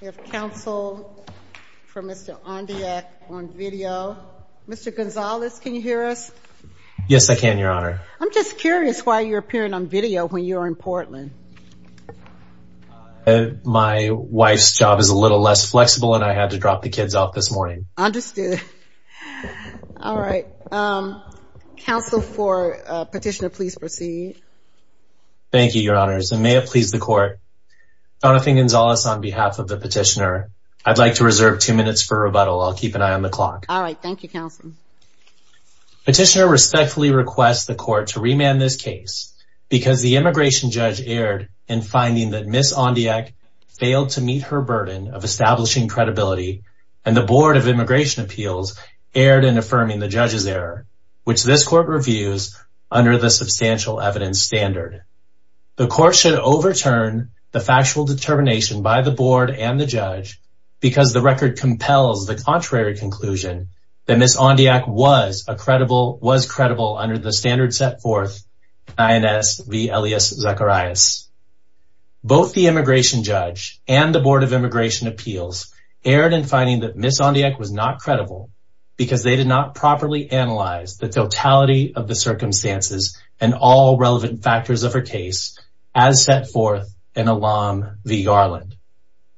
We have counsel for Mr. Ondiek on video. Mr. Gonzalez, can you hear us? Yes, I can, Your Honor. I'm just curious why you're appearing on video when you're in Portland. My wife's job is a little less flexible and I had to drop the kids off this morning. Understood. All right. Counsel for petitioner, please proceed. Thank you, Your Honors. And may it please the Court, Jonathan Gonzalez, on behalf of the petitioner, I'd like to reserve two minutes for rebuttal. I'll keep an eye on the clock. All right. Thank you, Counselor. Petitioner respectfully requests the Court to remand this case because the immigration judge erred in finding that Ms. Ondiek failed to meet her burden of establishing credibility and the Board of Immigration Appeals erred in affirming the judge's error, which this Court reviews under the Substantial Evidence Standard. The Court should overturn the factual determination by the Board and the judge because the record compels the contrary conclusion that Ms. Ondiek was credible under the standard set forth in INS v. Elias Zacharias. Both the immigration judge and the Board of Immigration Appeals erred in finding that Ms. Ondiek was not credible because they did not properly analyze the totality of the circumstances and all relevant factors of her case as set forth in ALAM v. Garland.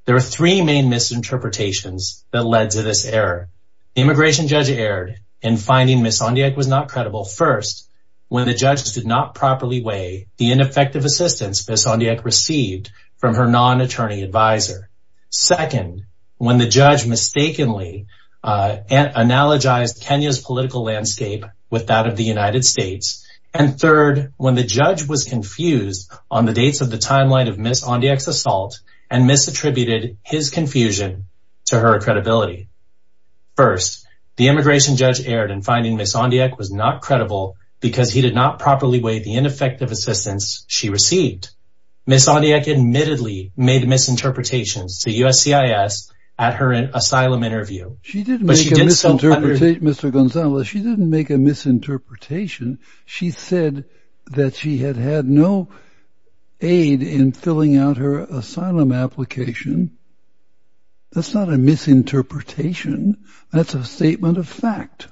There are three main misinterpretations that led to this error. Immigration judge erred in finding Ms. Ondiek was not credible. First, when the judge did not properly weigh the ineffective assistance Ms. Ondiek received from her non-attorney advisor. Second, when the judge mistakenly analogized Kenya's political landscape with that of the United States. And third, when the judge was confused on the dates of the timeline of Ms. Ondiek's assault and misattributed his confusion to her credibility. First, the immigration judge erred in finding Ms. Ondiek was not credible because he did not properly weigh the ineffective assistance she received. Second, Ms. Ondiek admittedly made misinterpretations to USCIS at her asylum interview. She didn't make a misinterpretation, Mr. Gonzalez. She didn't make a misinterpretation. She said that she had had no aid in filling out her asylum application. That's not a misinterpretation. That's a statement of fact.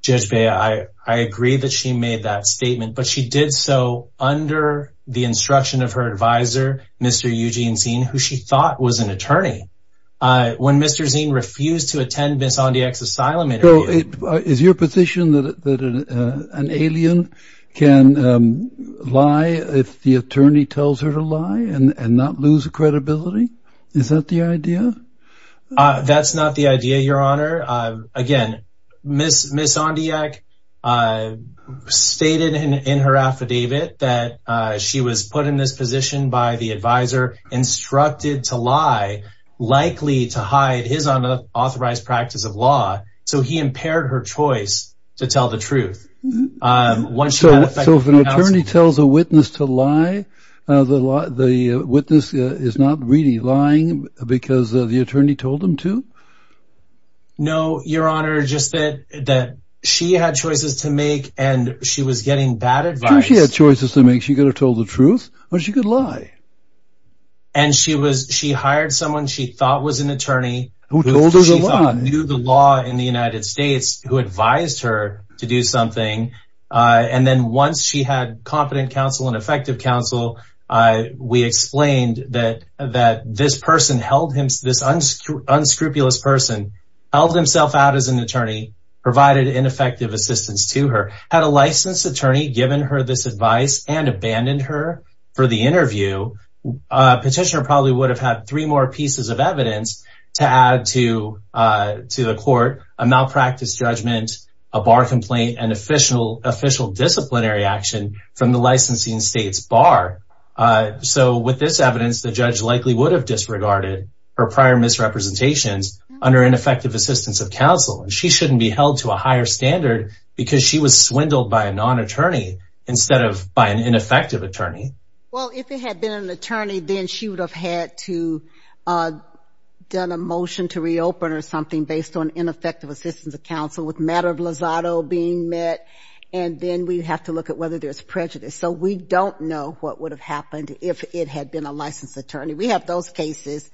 Judge Bea, I agree that she made that statement, but she did so under the instruction of her advisor, Mr. Eugene Zin, who she thought was an attorney. When Mr. Zin refused to attend Ms. Ondiek's asylum interview Is your position that an alien can lie if the attorney tells her to lie and not lose credibility? Is that the idea? That's not the idea, Your Honor. Again, Ms. Ondiek stated in her affidavit that she was put in this position by the advisor, instructed to lie, likely to hide his unauthorized practice of law, so he impaired her choice to tell the truth. So if an attorney tells a witness to lie, the witness is not really lying because the attorney told them to? No, Your Honor. Just that she had choices to make and she was getting bad advice. She had choices to make. She could have told the truth or she could lie. And she hired someone she thought was an attorney who she thought knew the law in the United States, who advised her to do something. And then once she had competent counsel and effective counsel, we explained that this unscrupulous person held himself out as an attorney, provided ineffective assistance to her. Had a licensed attorney given her this advice and abandoned her for the interview, petitioner probably would have had three more pieces of evidence to add to the court, a malpractice judgment, a bar complaint, and official disciplinary action from the licensing state's bar. So with this evidence, the judge likely would have disregarded her prior misrepresentations under ineffective assistance of counsel. And she shouldn't be held to a higher standard because she was swindled by a non-attorney instead of by an ineffective attorney. Well, if it had been an attorney, then she would have had to have done a motion to reopen or something based on ineffective assistance of counsel with matter of lazado being met. And then we'd have to look at whether there's prejudice. So we don't know what would have happened if it had been a licensed attorney. We have those cases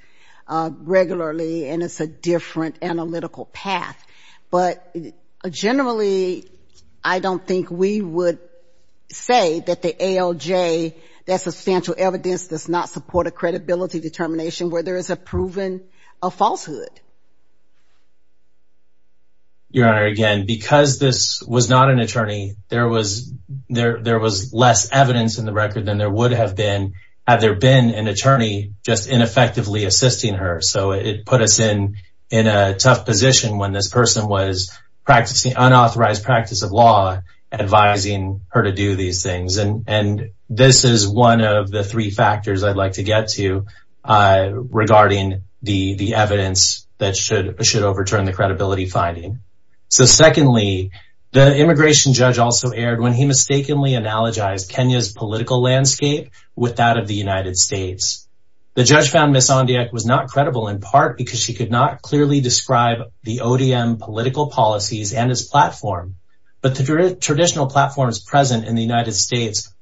regularly, and it's a different analytical path. But generally, I don't think we would say that the ALJ, that substantial evidence, does not support a credibility determination where there is a proven falsehood. Your Honor, again, because this was not an attorney, there was less evidence in the record than there would have been had there been an attorney just ineffectively assisting her. So it put us in a tough position when this person was practicing unauthorized practice of law, advising her to do these things. And this is one of the three factors I'd like to get to regarding the evidence that should overturn the credibility finding. So secondly, the immigration judge also erred when he mistakenly analogized Kenya's political landscape with that of the United States. The judge found Ms. Ondiak was not credible in part because she could not clearly describe the ODM political policies and its platform. But the traditional platforms present in the United States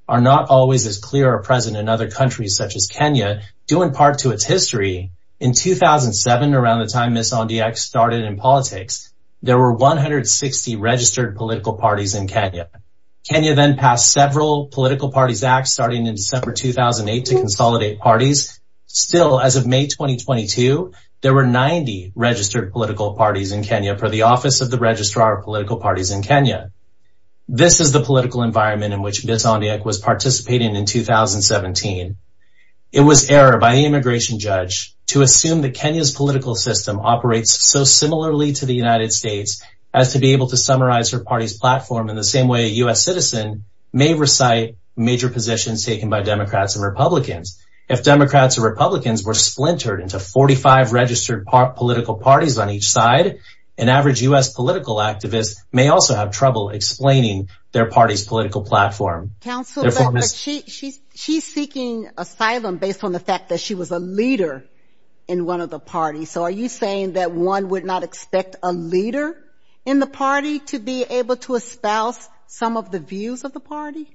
do impart to its history. In 2007, around the time Ms. Ondiak started in politics, there were 160 registered political parties in Kenya. Kenya then passed several Political Parties Act starting in December 2008 to consolidate parties. Still, as of May 2022, there were 90 registered political parties in Kenya per the Office of the Registrar of Political Parties in Kenya. This is the political environment in which Ms. Ondiak was participating in 2017. It was error by the immigration judge to assume that Kenya's political system operates so similarly to the United States as to be able to summarize her party's platform in the same way a U.S. citizen may recite major positions taken by Democrats and Republicans. If Democrats and Republicans were splintered into 45 registered political parties on each side, an average U.S. political activist may also have trouble explaining their party's political platform. Counsel, she's seeking asylum based on the fact that she was a leader in one of the parties. So are you saying that one would not expect a leader in the party to be able to espouse some of the views of the party?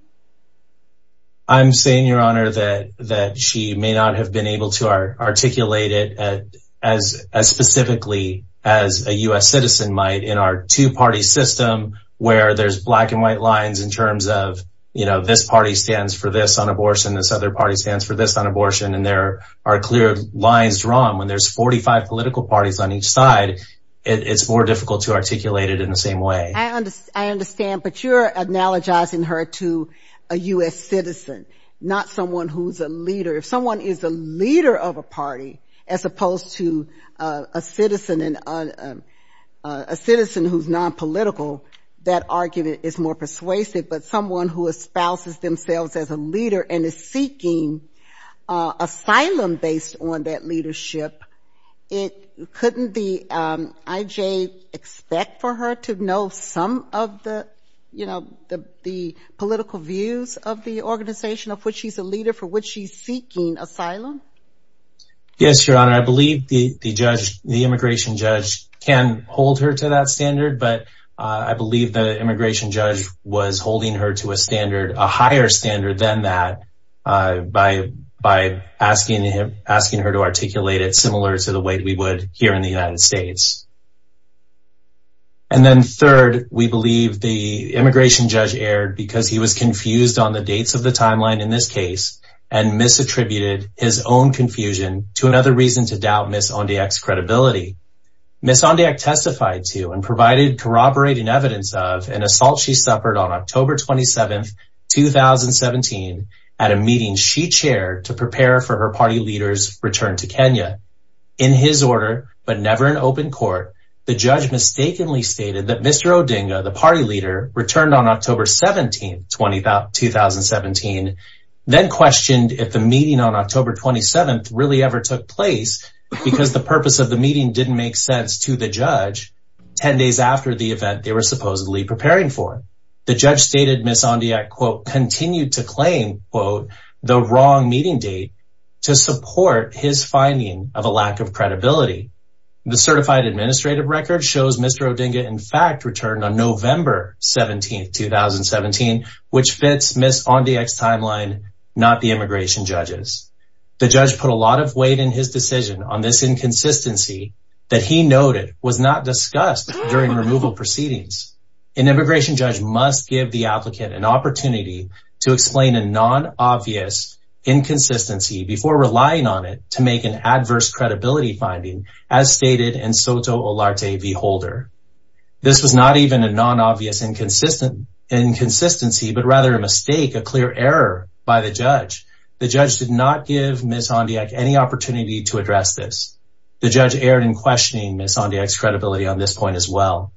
I'm saying, Your Honor, that she may not have been able to articulate it as specifically as a U.S. citizen might in our two-party system where there's black and white lines in terms of, you know, this party stands for this on abortion, this other party stands for this on abortion, and there are clear lines drawn. When there's 45 political parties on each side, it's more difficult to articulate it in the same way. I understand, but you're analogizing her to a U.S. citizen, not someone who's a leader. If someone is a leader of a party as opposed to a citizen who's nonpolitical, that argument is more persuasive, but someone who espouses themselves as a leader and is seeking asylum based on that leadership, couldn't the IJ expect for her to know some of the, you know, the political views of the organization of which she's a leader, Yes, Your Honor. And I believe the judge, the immigration judge, can hold her to that standard, but I believe the immigration judge was holding her to a standard, a higher standard than that by asking her to articulate it similar to the way we would here in the United States. And then third, we believe the immigration judge erred because he was confused on the dates of the timeline in this case and misattributed his own confusion to another reason to doubt Ms. Ondiak's credibility. Ms. Ondiak testified to and provided corroborating evidence of an assault she suffered on October 27th, 2017 at a meeting she chaired to prepare for her party leader's return to Kenya. In his order, but never in open court, the judge mistakenly stated that Mr. Odinga, the party leader, returned on October 17th, 2017, then questioned if the meeting on October 27th really ever took place because the purpose of the meeting didn't make sense to the judge 10 days after the event they were supposedly preparing for. The judge stated Ms. Ondiak, quote, continued to claim, quote, the wrong meeting date to support his finding of a lack of credibility. The certified administrative record shows Mr. Odinga, in fact, returned on November 17th, 2017, which fits Ms. Ondiak's timeline, not the immigration judge's. The judge put a lot of weight in his decision on this inconsistency that he noted was not discussed during removal proceedings. An immigration judge must give the applicant an opportunity to explain a non-obvious inconsistency before relying on it to make an adverse credibility finding, as stated in Soto Olarte v. Holder. This was not even a non-obvious inconsistency, but rather a mistake, a clear error by the judge. The judge did not give Ms. Ondiak any opportunity to address this. The judge erred in questioning Ms. Ondiak's credibility on this point as well.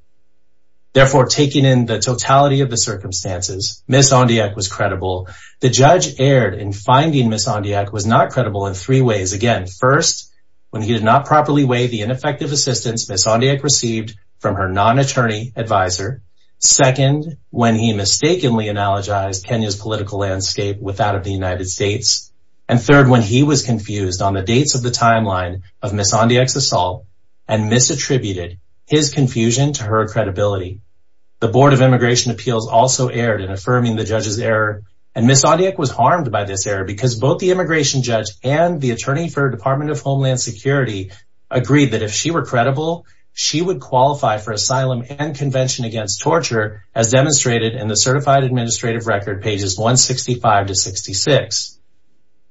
Therefore, taking in the totality of the circumstances, Ms. Ondiak was credible. The judge erred in finding Ms. Ondiak was not credible in three ways. Again, first, when he did not properly weigh the ineffective assistance Ms. Ondiak received from her non-attorney advisor. Second, when he mistakenly analogized Kenya's political landscape with that of the United States. And third, when he was confused on the dates of the timeline of Ms. Ondiak's assault and misattributed his confusion to her credibility. The Board of Immigration Appeals also erred in affirming the judge's error, and Ms. Ondiak was harmed by this error because both the immigration judge and the attorney for Department of Homeland Security agreed that if she were credible, she would qualify for asylum and convention against torture as demonstrated in the certified administrative record pages 165 to 66.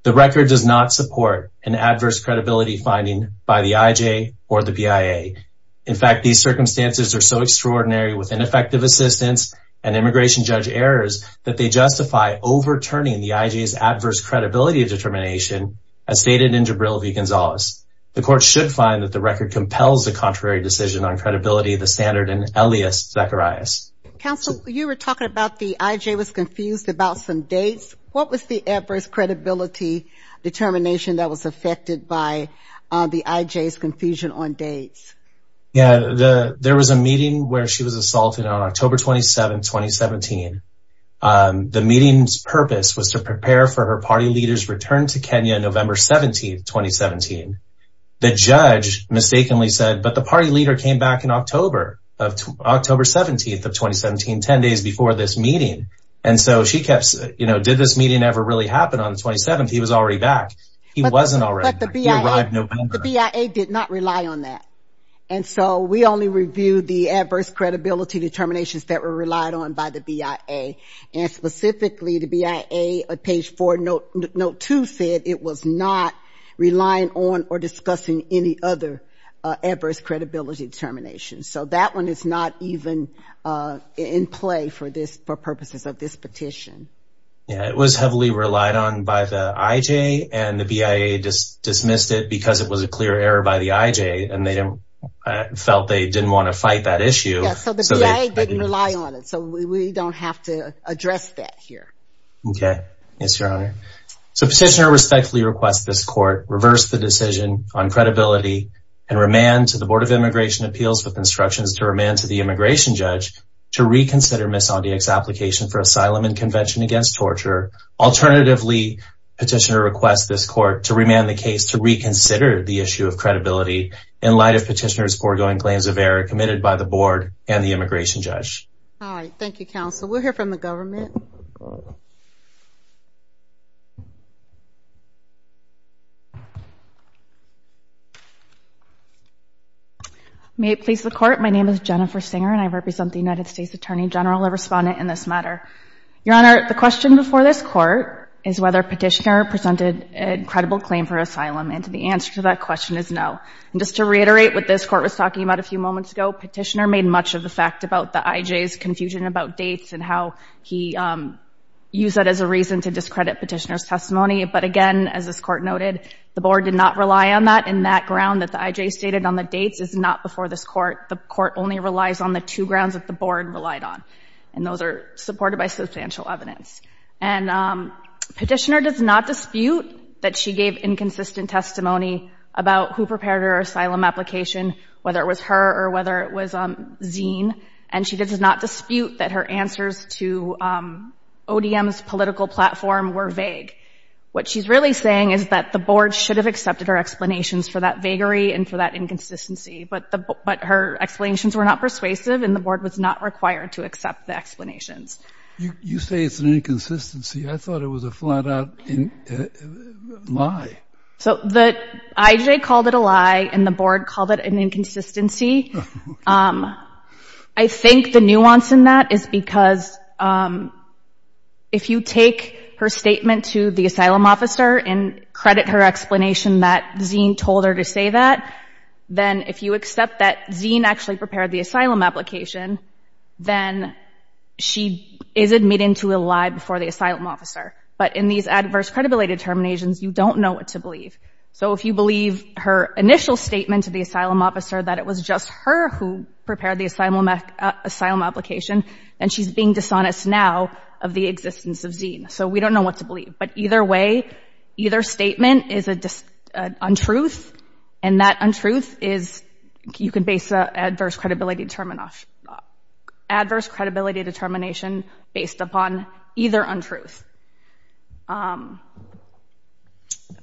The record does not support an adverse credibility finding by the IJ or the BIA. In fact, these circumstances are so extraordinary with ineffective assistance and immigration judge errors that they justify overturning the IJ's adverse credibility determination as stated in Jabril V. Gonzalez. The court should find that the record compels a contrary decision on credibility of the standard in Elias Zacharias. Counsel, you were talking about the IJ was confused about some dates. What was the adverse credibility determination that was affected by the IJ's confusion on dates? Yeah, there was a meeting where she was assaulted on October 27, 2017. The meeting's purpose was to prepare for her party leader's return to Kenya on November 17, 2017. The judge mistakenly said, but the party leader came back in October, October 17 of 2017, 10 days before this meeting. And so she kept, you know, did this meeting ever really happen on the 27th? He was already back. He wasn't already back. He arrived November. But the BIA did not rely on that. And so we only reviewed the adverse credibility determinations that were relied on by the BIA. And specifically, the BIA, page 4, note 2 said it was not relying on or discussing any other adverse credibility determination. So that one is not even in play for purposes of this petition. Yeah, it was heavily relied on by the IJ, and the BIA dismissed it because it was a clear error by the IJ, and they felt they didn't want to fight that issue. Yeah, so the BIA didn't rely on it. So we don't have to address that here. Okay. Yes, Your Honor. So petitioner respectfully requests this court reverse the decision on credibility and remand to the Board of Immigration Appeals with instructions to remand to the immigration judge to reconsider Ms. Ondiak's application for asylum and convention against torture. Alternatively, petitioner requests this court to remand the case to reconsider the issue of credibility in light of petitioner's foregoing claims of error committed by the board and the immigration judge. All right. Thank you, counsel. We'll hear from the government. May it please the court, my name is Jennifer Singer, and I represent the United States Attorney General, a respondent in this matter. Your Honor, the question before this court is whether petitioner presented a credible claim for asylum, and the answer to that question is no. And just to reiterate what this court was talking about a few moments ago, petitioner made much of the fact about the IJ's confusion about dates and how he used that as a reason to discredit petitioner's testimony. But again, as this court noted, the board did not rely on that, and that ground that the IJ stated on the dates is not before this court. The court only relies on the two grounds that the board relied on, and those are supported by substantial evidence. And petitioner does not dispute that she gave inconsistent testimony about who prepared her asylum application, whether it was her or whether it was Zine, and she does not dispute that her answers to ODM's political platform were vague. What she's really saying is that the board should have accepted her explanations for that vagary and for that inconsistency, but her explanations were not persuasive and the board was not required to accept the explanations. You say it's an inconsistency. I thought it was a flat-out lie. So the IJ called it a lie and the board called it an inconsistency. I think the nuance in that is because if you take her statement to the asylum officer and credit her explanation that Zine told her to say that, then if you accept that Zine actually prepared the asylum application, then she is admitting to a lie before the asylum officer. But in these adverse credibility determinations, you don't know what to believe. So if you believe her initial statement to the asylum officer that it was just her who prepared the asylum application, then she's being dishonest now of the existence of Zine. So we don't know what to believe. But either way, either statement is an untruth, and that untruth is you can base an adverse credibility determination based upon either untruth.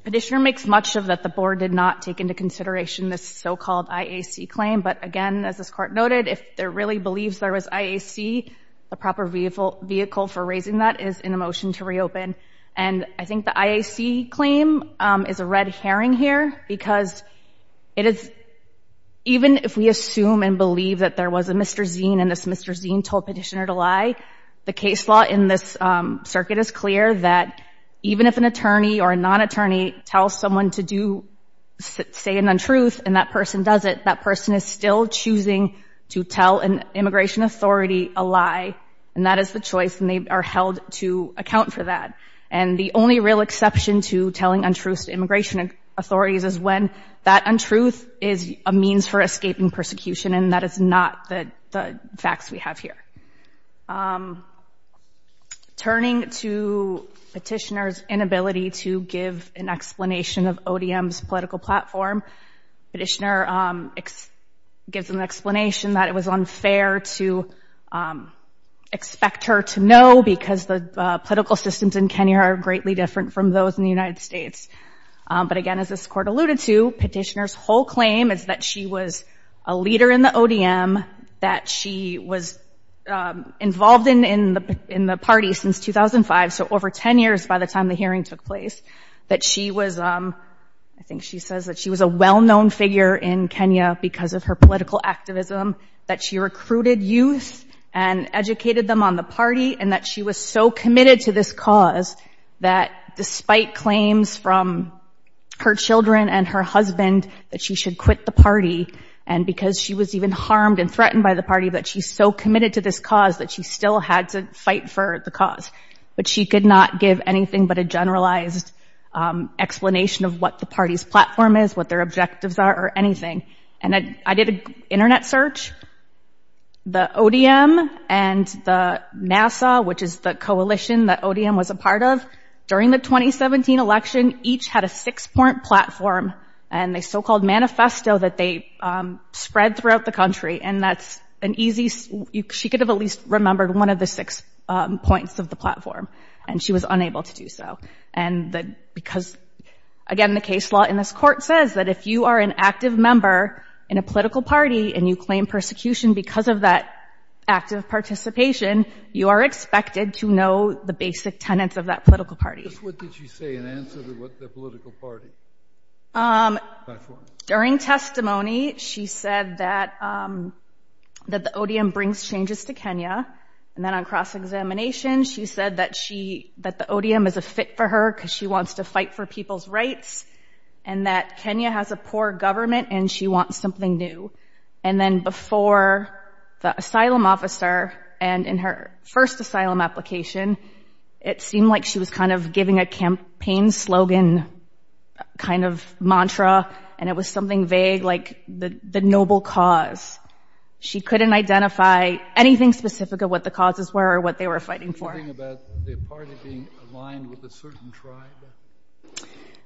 Petitioner makes much of that the board did not take into consideration this so-called IAC claim. But again, as this Court noted, if there really believes there was IAC, the proper vehicle for raising that is in a motion to reopen. And I think the IAC claim is a red herring here because it is, even if we assume and believe that there was a Mr. Zine and this Mr. Zine told Petitioner to lie, the case law in this circuit is clear that even if an attorney or a non-attorney tells someone to say an untruth and that person does it, that person is still choosing to tell an immigration authority a lie, and that is the choice, and they are held to account for that. And the only real exception to telling untruths to immigration authorities is when that untruth is a means for escaping persecution, and that is not the facts we have here. Turning to Petitioner's inability to give an explanation of ODM's political platform, Petitioner gives an explanation that it was unfair to expect her to know because the political systems in Kenya are greatly different from those in the United States. But again, as this Court alluded to, Petitioner's whole claim is that she was a leader in the ODM, that she was involved in the party since 2005, so over 10 years by the time the hearing took place, that she was a well-known figure in Kenya because of her political activism, that she recruited youth and educated them on the party, and that she was so committed to this cause that despite claims from her children and her husband that she should quit the party, and because she was even harmed and threatened by the party, that she's so committed to this cause that she still had to fight for the cause. But she could not give anything but a generalized explanation of what the party's platform is, what their objectives are, or anything. And I did an Internet search. The ODM and the NASA, which is the coalition that ODM was a part of, during the 2017 election, each had a six-point platform and a so-called manifesto that they spread throughout the country, and that's an easy—she could have at least remembered one of the six points of the platform, and she was unable to do so. And because, again, the case law in this Court says that if you are an active member in a political party and you claim persecution because of that active participation, you are expected to know the basic tenets of that political party. Just what did she say in answer to what the political party platform is? During testimony, she said that the ODM brings changes to Kenya. And then on cross-examination, she said that the ODM is a fit for her because she wants to fight for people's rights and that Kenya has a poor government and she wants something new. And then before the asylum officer and in her first asylum application, it seemed like she was kind of giving a campaign slogan kind of mantra, and it was something vague, like the noble cause. She couldn't identify anything specific of what the causes were or what they were fighting for.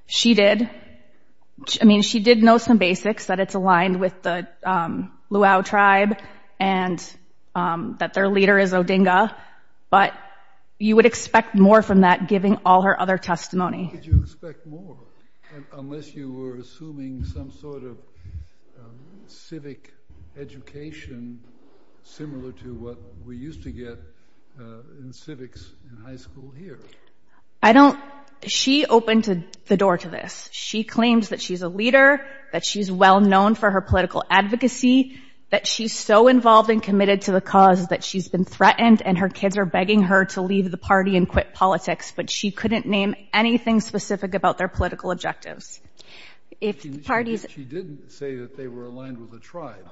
She did. I mean, she did know some basics, that it's aligned with the Luau tribe and that their leader is Odinga, but you would expect more from that, giving all her other testimony. How could you expect more, unless you were assuming some sort of civic education similar to what we used to get in civics in high school here? She opened the door to this. She claims that she's a leader, that she's well-known for her political advocacy, that she's so involved and committed to the cause that she's been threatened and her kids are begging her to leave the party and quit politics, but she couldn't name anything specific about their political objectives. She didn't say that they were aligned with the tribe.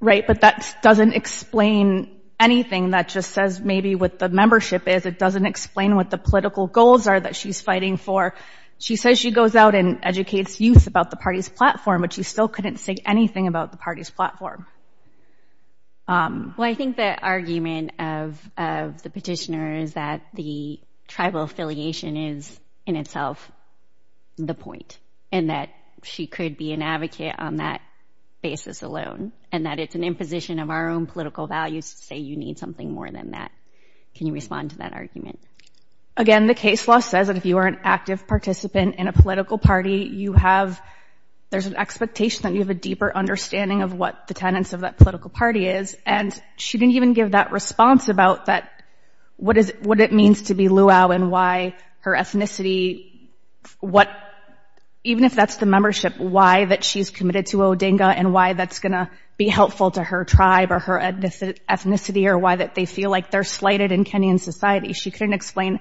Right, but that doesn't explain anything. That just says maybe what the membership is. It doesn't explain what the political goals are that she's fighting for. She says she goes out and educates youth about the party's platform, but she still couldn't say anything about the party's platform. Well, I think the argument of the petitioner is that the tribal affiliation is in itself the point and that she could be an advocate on that basis alone and that it's an imposition of our own political values to say you need something more than that. Can you respond to that argument? Again, the case law says that if you are an active participant in a political party, there's an expectation that you have a deeper understanding of what the tenets of that political party is, and she didn't even give that response about what it means to be Luau and why her ethnicity, even if that's the membership, why she's committed to Odinga and why that's going to be helpful to her tribe or her ethnicity or why that they feel like they're slighted in Kenyan society. She couldn't explain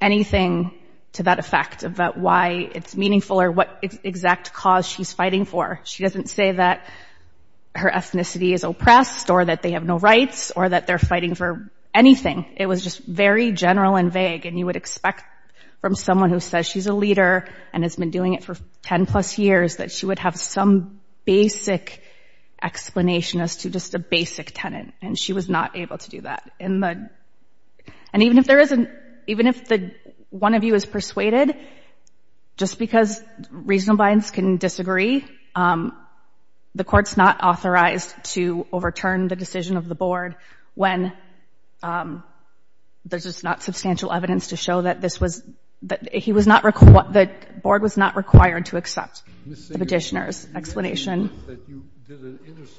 anything to that effect about why it's meaningful or what exact cause she's fighting for. She doesn't say that her ethnicity is oppressed or that they have no rights or that they're fighting for anything. It was just very general and vague, and you would expect from someone who says she's a leader and has been doing it for ten plus years that she would have some basic explanation as to just a basic tenet, and she was not able to do that. And even if there isn't, even if one of you is persuaded, just because reasonable minds can disagree, the Court's not authorized to overturn the decision of the Board when there's just not substantial evidence to show that this was, that the Board was not required to accept the petitioner's explanation. You said that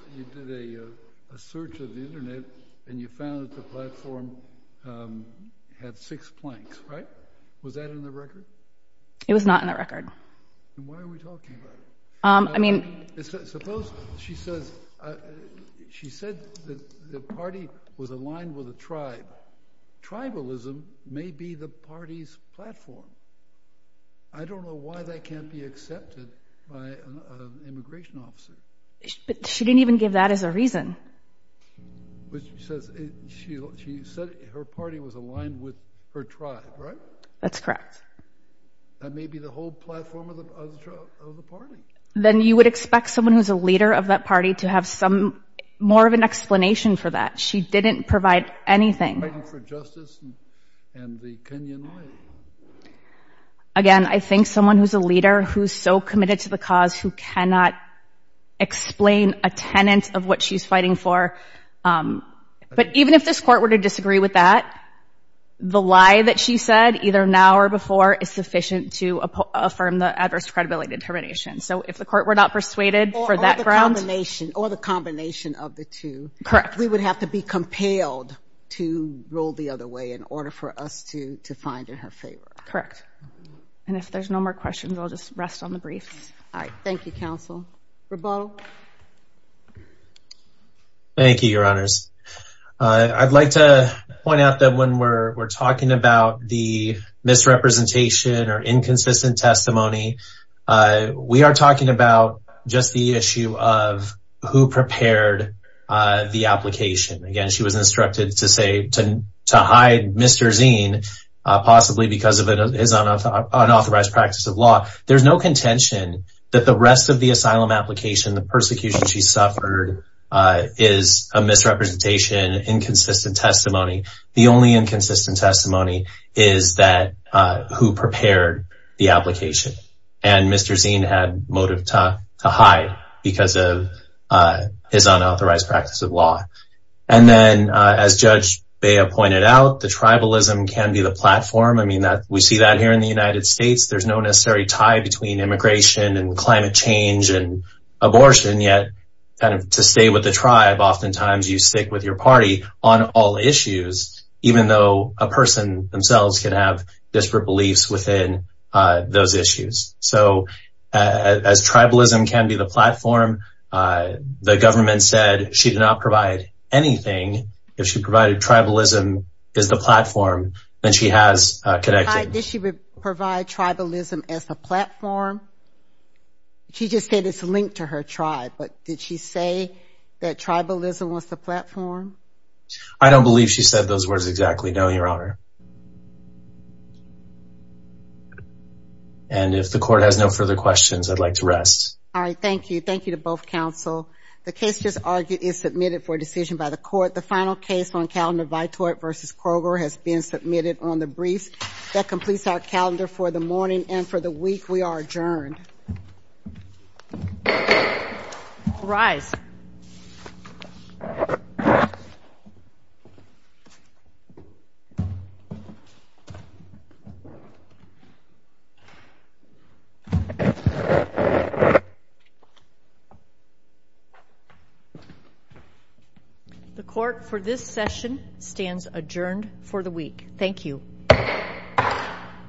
you did a search of the Internet and you found that the platform had six planks, right? Was that in the record? It was not in the record. Then why are we talking about it? I mean... Suppose she says, she said that the party was aligned with a tribe. Tribalism may be the party's platform. I don't know why that can't be accepted by an immigration officer. But she didn't even give that as a reason. But she says, she said her party was aligned with her tribe, right? That's correct. That may be the whole platform of the party. Then you would expect someone who's a leader of that party to have some, more of an explanation for that. She didn't provide anything. Fighting for justice and the Kenyan Isles. Again, I think someone who's a leader, who's so committed to the cause, who cannot explain a tenet of what she's fighting for. But even if this Court were to disagree with that, the lie that she said, either now or before, is sufficient to affirm the adverse credibility determination. So if the Court were not persuaded for that ground... Or the combination, or the combination of the two. Correct. We would have to be compelled to roll the other way in order for us to find in her favor. Correct. And if there's no more questions, I'll just rest on the briefs. All right, thank you, Counsel. Rebaul. Thank you, Your Honors. I'd like to point out that when we're talking about the misrepresentation or inconsistent testimony, we are talking about just the issue of who prepared the application. Again, she was instructed to hide Mr. Zien, possibly because of his unauthorized practice of law. There's no contention that the rest of the asylum application, the persecution she suffered, is a misrepresentation, inconsistent testimony. The only inconsistent testimony is that who prepared the application. And Mr. Zien had motive to hide because of his unauthorized practice of law. And then, as Judge Bea pointed out, the tribalism can be the platform. I mean, we see that here in the United States. There's no necessary tie between immigration and climate change and abortion. Yet, to stay with the tribe, oftentimes you stick with your party on all issues, even though a person themselves can have disparate beliefs within those issues. As tribalism can be the platform, the government said she did not provide anything. If she provided tribalism as the platform, then she has connections. Did she provide tribalism as the platform? She just said it's linked to her tribe. But did she say that tribalism was the platform? I don't believe she said those words exactly. No, Your Honor. And if the court has no further questions, I'd like to rest. All right, thank you. Thank you to both counsel. The case just argued is submitted for decision by the court. The final case on Calendar Vitoit v. Kroger has been submitted on the briefs. That completes our calendar for the morning and for the week. We are adjourned. All rise. The court for this session stands adjourned for the week. Thank you.